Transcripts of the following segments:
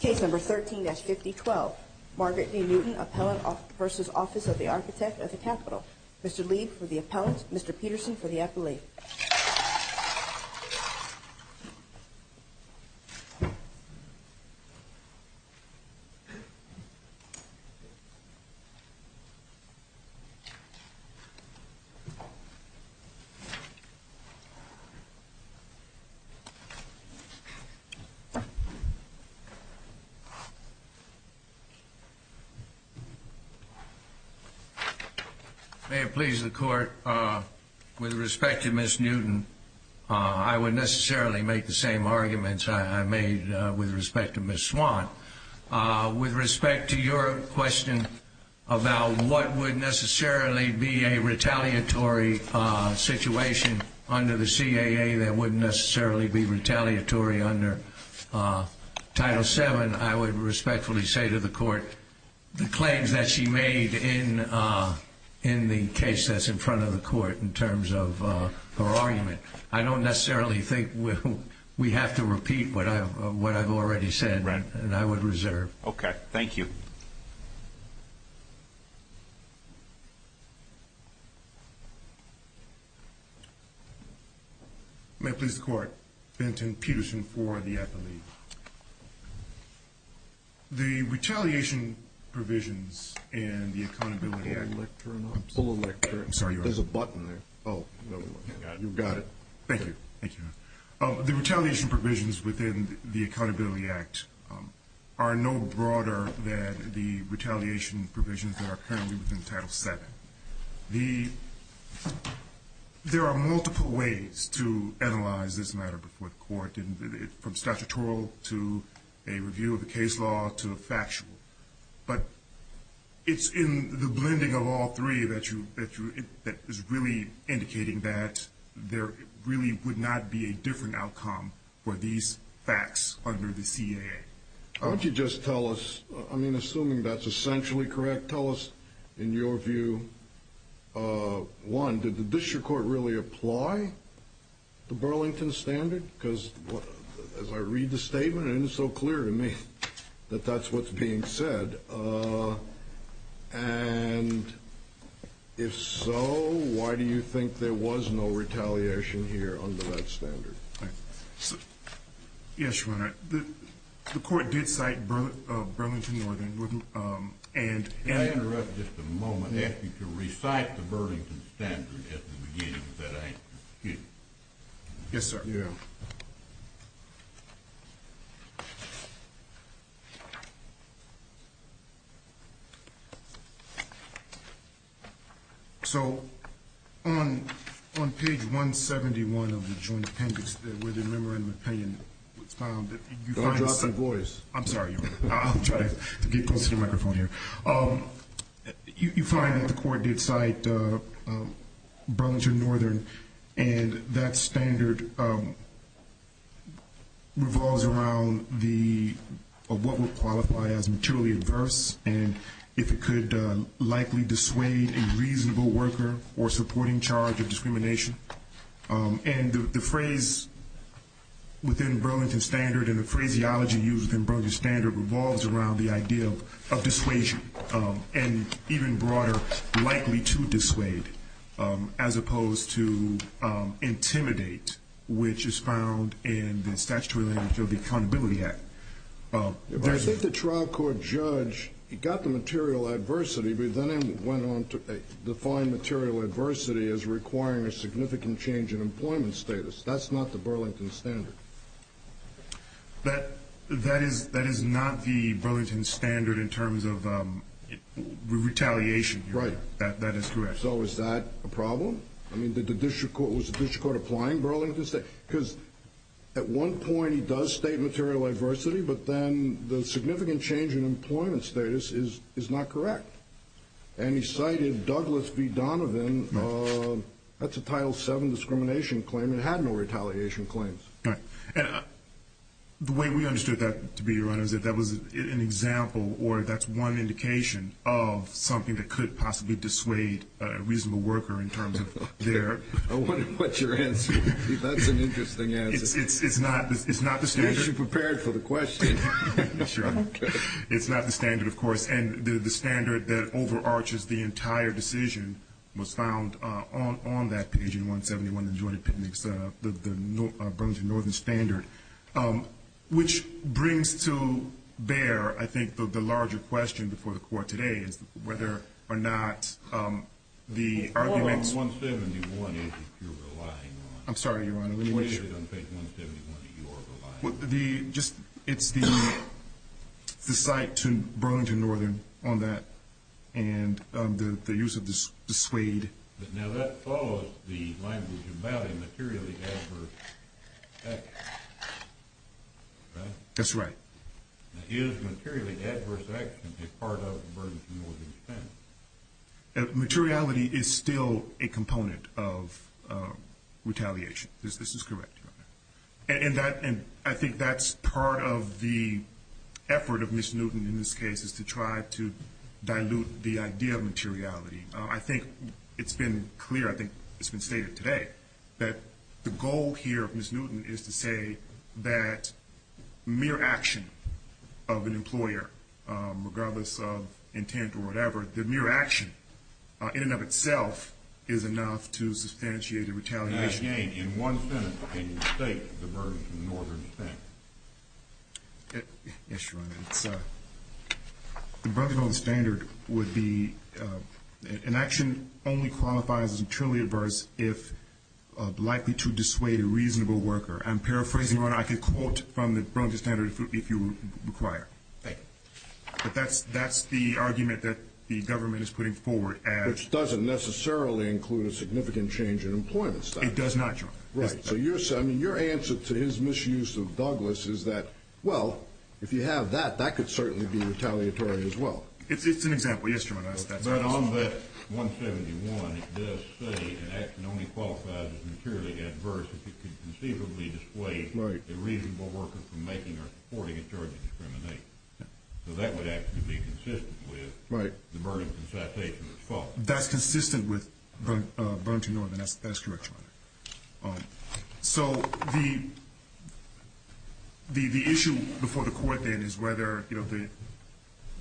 Case number 13-5012. Margaret D. Newton, Appellant v. Office of the Architect of the Capitol. Mr. Leib for the Appellant. Mr. Peterson for the Appellate. May it please the Court, with respect to Ms. Newton, I would necessarily make the same arguments I made with respect to Ms. Swann. With respect to your question about what would necessarily be a retaliatory situation under the CAA that wouldn't necessarily be retaliatory under Title VII, I would respectfully say to the Court the claims that she made in the case that's in front of the Court in terms of her argument. I don't necessarily think we have to repeat what I've already said, and I would reserve. Okay. Thank you. May it please the Court, Benton, Peterson for the Appellate. The retaliation provisions in the Accountability Act are no broader than the retaliation provisions that are currently within Title VII. There are multiple ways to analyze this matter before the Court, from statutory to a review of the case law to factual. But it's in the blending of all three that is really indicating that there really would not be a different outcome for these facts under the CAA. Why don't you just tell us, I mean, assuming that's essentially correct, tell us in your view, one, did the District Court really apply the Burlington Standard? Because as I read the statement, it is so clear to me that that's what's being said. And if so, why do you think there was no retaliation here under that standard? Yes, Your Honor. The Court did cite Burlington Northern and May I interrupt just a moment and ask you to recite the Burlington Standard at the beginning of that answer? Yes, sir. Yeah. So on page 171 of the Joint Appendix where the memorandum of opinion was found- Don't drop the voice. I'm sorry, Your Honor. I'll try to get close to the microphone here. You find that the Court did cite Burlington Northern, and that standard revolves around what would qualify as materially adverse, and if it could likely dissuade a reasonable worker or supporting charge of discrimination. And the phrase within Burlington Standard and the phraseology used in Burlington Standard revolves around the idea of dissuasion, and even broader, likely to dissuade, as opposed to intimidate, which is found in the statutory language of the Accountability Act. I think the trial court judge, he got the material adversity, but then went on to define material adversity as requiring a significant change in employment status. That's not the Burlington Standard. That is not the Burlington Standard in terms of retaliation, Your Honor. Right. That is correct. So is that a problem? I mean, was the district court applying Burlington Standard? Because at one point he does state material adversity, but then the significant change in employment status is not correct. And he cited Douglas v. Donovan. That's a Title VII discrimination claim. It had no retaliation claims. Right. And the way we understood that to be, Your Honor, is that that was an example, or that's one indication, of something that could possibly dissuade a reasonable worker in terms of their… I wonder what your answer is. That's an interesting answer. It's not the standard. Are you prepared for the question? Sure. It's not the standard, of course. And the standard that overarches the entire decision was found on that page in 171 of the Joint Appendix, the Burlington Northern Standard, which brings to bear, I think, the larger question before the Court today is whether or not the arguments… I'm sorry, Your Honor. We made it on page 171 that you're relying on. It's the cite to Burlington Northern on that and the use of the suede. Now, that follows the language about a materially adverse action, right? That's right. Now, is materially adverse action a part of a Burlington Northern standard? Materiality is still a component of retaliation. This is correct, Your Honor. And I think that's part of the effort of Ms. Newton in this case is to try to dilute the idea of materiality. I think it's been clear, I think it's been stated today, that the goal here of Ms. Newton is to say that mere action of an employer, regardless of intent or whatever, that mere action in and of itself is enough to substantiate a retaliation. Now, again, in one sentence, what can you state of the Burlington Northern standard? Yes, Your Honor. The Burlington Northern standard would be an action only qualifies as materially adverse if likely to dissuade a reasonable worker. I'm paraphrasing, Your Honor. I could quote from the Burlington standard if you require. Thank you. But that's the argument that the government is putting forward. Which doesn't necessarily include a significant change in employment standards. It does not, Your Honor. Right. So your answer to his misuse of Douglas is that, well, if you have that, that could certainly be retaliatory as well. It's an example. Yes, Your Honor. But on that 171, it does say an action only qualifies as materially adverse if it could conceivably dissuade a reasonable worker from making or reporting a charge of discrimination. So that would actually be consistent with the Burlington citation as follows. That's consistent with Burlington Northern. That's correct, Your Honor. So the issue before the court then is whether, you know,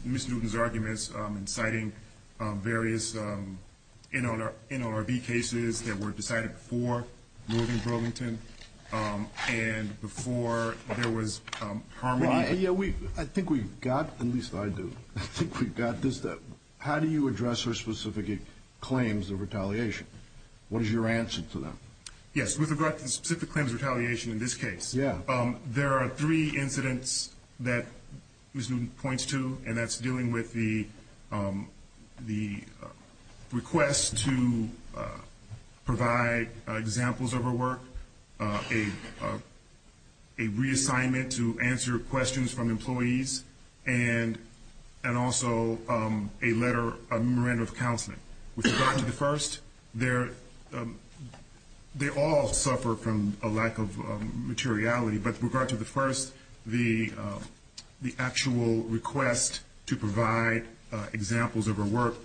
Ms. Newton's arguments in citing various NLRB cases that were decided before Northern Burlington and before there was Harmony. Yeah, I think we've got, at least I do, I think we've got this. How do you address her specific claims of retaliation? What is your answer to that? Yes, with regard to the specific claims of retaliation in this case, there are three incidents that Ms. Newton points to, and that's dealing with the request to provide examples of her work, a reassignment to answer questions from employees, and also a letter, a memorandum of counseling. With regard to the first, they all suffer from a lack of materiality, but with regard to the first, the actual request to provide examples of her work,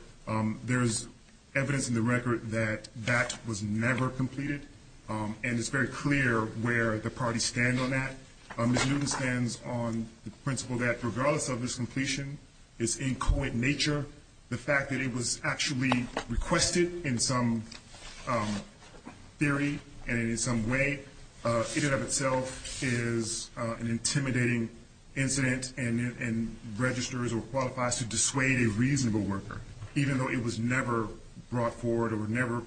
there's evidence in the record that that was never completed, and it's very clear where the parties stand on that. Ms. Newton stands on the principle that regardless of its completion, its inchoate nature, the fact that it was actually requested in some theory and in some way, in and of itself is an intimidating incident and registers or qualifies to dissuade a reasonable worker, even though it was never brought forward or never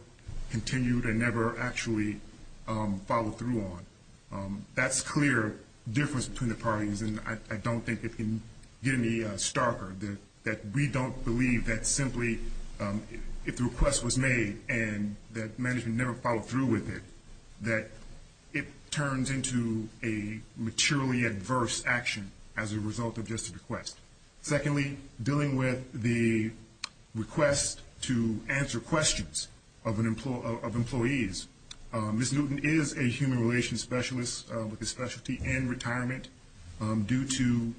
continued and never actually followed through on. That's clear difference between the parties, and I don't think it can get any starker that we don't believe that simply if the request was made and that management never followed through with it, that it turns into a materially adverse action as a result of just a request. Secondly, dealing with the request to answer questions of employees, Ms. Newton is a human relations specialist with a specialty in retirement. Due to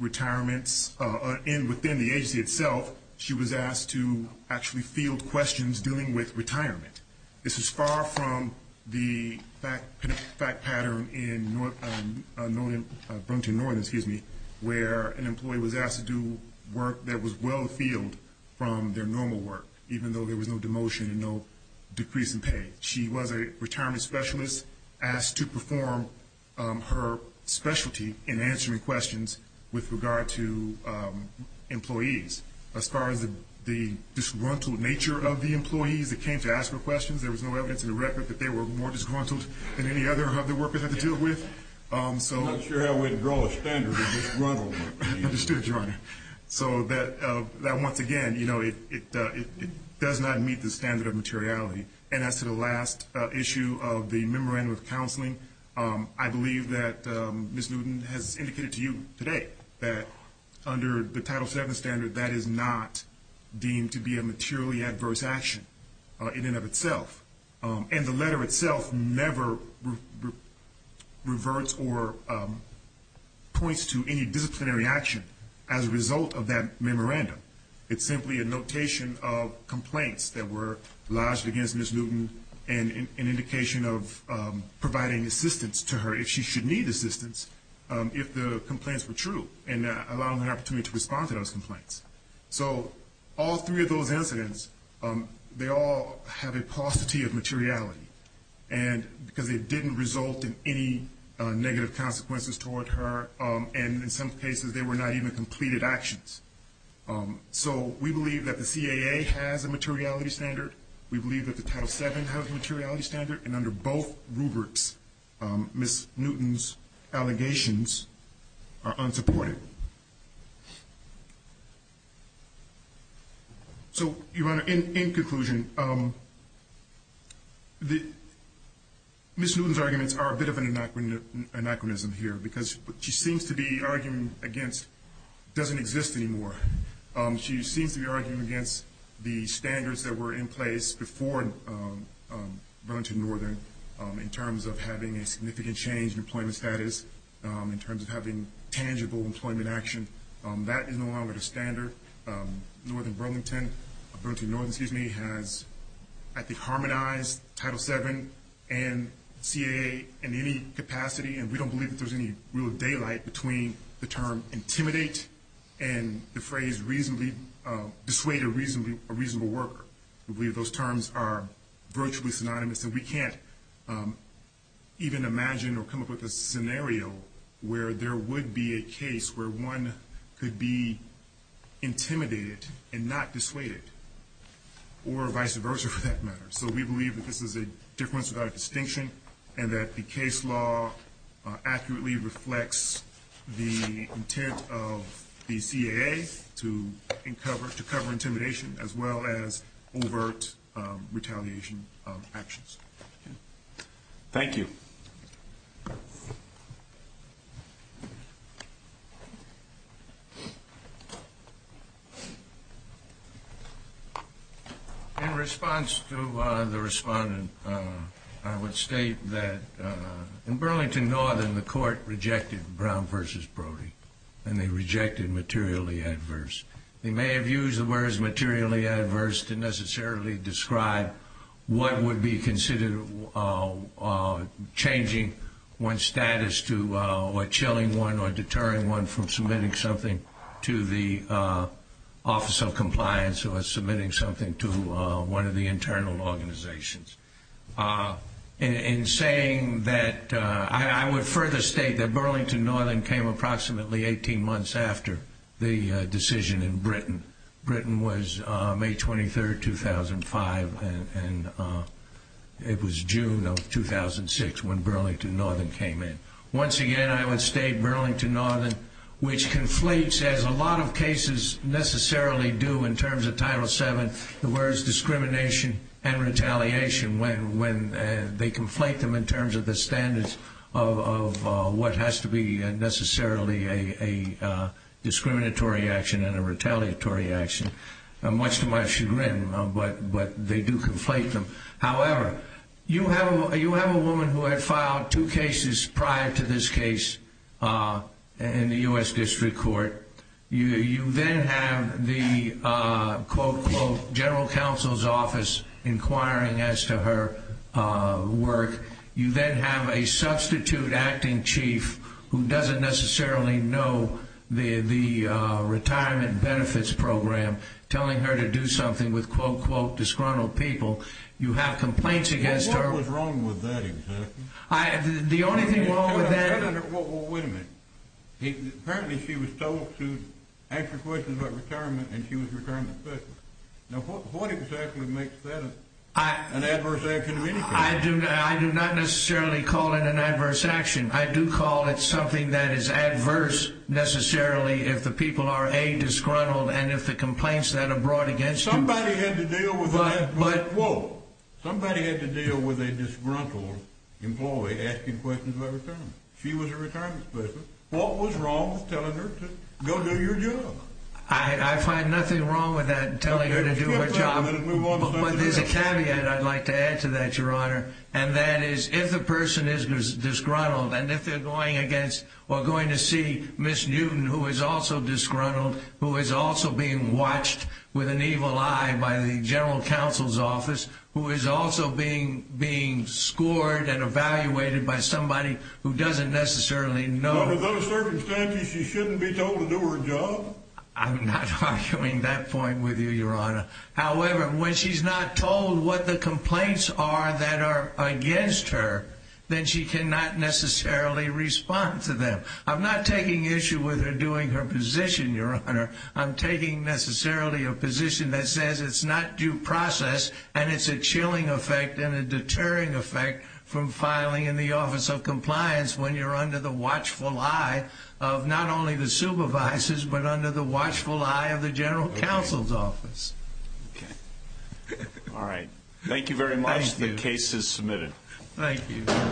retirements within the agency itself, she was asked to actually field questions dealing with retirement. This is far from the fact pattern in Brunton, Northern, excuse me, where an employee was asked to do work that was well-filled from their normal work, even though there was no demotion and no decrease in pay. She was a retirement specialist asked to perform her specialty in answering questions with regard to employees. As far as the disgruntled nature of the employees that came to ask her questions, there was no evidence in the record that they were more disgruntled than any other of the workers had to deal with. I'm sure I wouldn't draw a standard of disgruntled. Understood, Your Honor. So that once again, you know, it does not meet the standard of materiality. And as to the last issue of the memorandum of counseling, I believe that Ms. Newton has indicated to you today that under the Title VII standard, that is not deemed to be a materially adverse action in and of itself. And the letter itself never reverts or points to any disciplinary action as a result of that memorandum. It's simply a notation of complaints that were lodged against Ms. Newton and an indication of providing assistance to her if she should need assistance if the complaints were true and allowing her an opportunity to respond to those complaints. So all three of those incidents, they all have a paucity of materiality because they didn't result in any negative consequences toward her. And in some cases, they were not even completed actions. So we believe that the CAA has a materiality standard. We believe that the Title VII has a materiality standard. And under both rubrics, Ms. Newton's allegations are unsupported. So, Your Honor, in conclusion, Ms. Newton's arguments are a bit of an anachronism here because what she seems to be arguing against doesn't exist anymore. She seems to be arguing against the standards that were in place before Burlington Northern in terms of having a significant change in employment status, in terms of having tangible employment action. That is no longer the standard. Burlington Northern has, I think, harmonized Title VII and CAA in any capacity, and we don't believe that there's any real daylight between the term intimidate and the phrase dissuade a reasonable worker. We believe those terms are virtually synonymous, and we can't even imagine or come up with a scenario where there would be a case where one could be intimidated and not dissuaded, or vice versa for that matter. So we believe that this is a difference without a distinction and that the case law accurately reflects the intent of the CAA to cover intimidation as well as overt retaliation of actions. Thank you. In response to the respondent, I would state that in Burlington Northern, the court rejected Brown v. Brody, and they rejected materially adverse. They may have used the words materially adverse to necessarily describe what would be considered changing one's status to or chilling one or deterring one from submitting something to the Office of Compliance or submitting something to one of the internal organizations. In saying that, I would further state that Burlington Northern came approximately 18 months after the decision in Britain. Britain was May 23, 2005, and it was June of 2006 when Burlington Northern came in. Once again, I would state Burlington Northern, which conflates, as a lot of cases necessarily do, in terms of Title VII, the words discrimination and retaliation. They conflate them in terms of the standards of what has to be necessarily a discriminatory action and a retaliatory action. Much to my chagrin, but they do conflate them. However, you have a woman who had filed two cases prior to this case in the U.S. District Court. You then have the, quote-unquote, General Counsel's Office inquiring as to her work. You then have a substitute acting chief who doesn't necessarily know the retirement benefits program telling her to do something with, quote-unquote, disgruntled people. You have complaints against her. What was wrong with that exactly? The only thing wrong with that... Well, wait a minute. Apparently, she was told to answer questions about retirement, and she was retired in the first place. Now, what exactly makes that an adverse action of any kind? I do not necessarily call it an adverse action. I do call it something that is adverse, necessarily, if the people are, A, disgruntled, and if the complaints that are brought against you... Somebody had to deal with that, quote-unquote. Somebody had to deal with a disgruntled employee asking questions about retirement. She was a retirement specialist. What was wrong with telling her to go do your job? I find nothing wrong with that, telling her to do her job. But there's a caveat I'd like to add to that, Your Honor, and that is if the person is disgruntled and if they're going against or going to see Ms. Newton, who is also disgruntled, who is also being watched with an evil eye by the General Counsel's Office, who is also being scored and evaluated by somebody who doesn't necessarily know... But under those circumstances, she shouldn't be told to do her job? I'm not arguing that point with you, Your Honor. However, when she's not told what the complaints are that are against her, then she cannot necessarily respond to them. I'm not taking issue with her doing her position, Your Honor. I'm taking necessarily a position that says it's not due process and it's a chilling effect and a deterring effect from filing in the Office of Compliance when you're under the watchful eye of not only the supervisors but under the watchful eye of the General Counsel's Office. Okay. All right. Thank you very much. Thank you. The case is submitted. Thank you.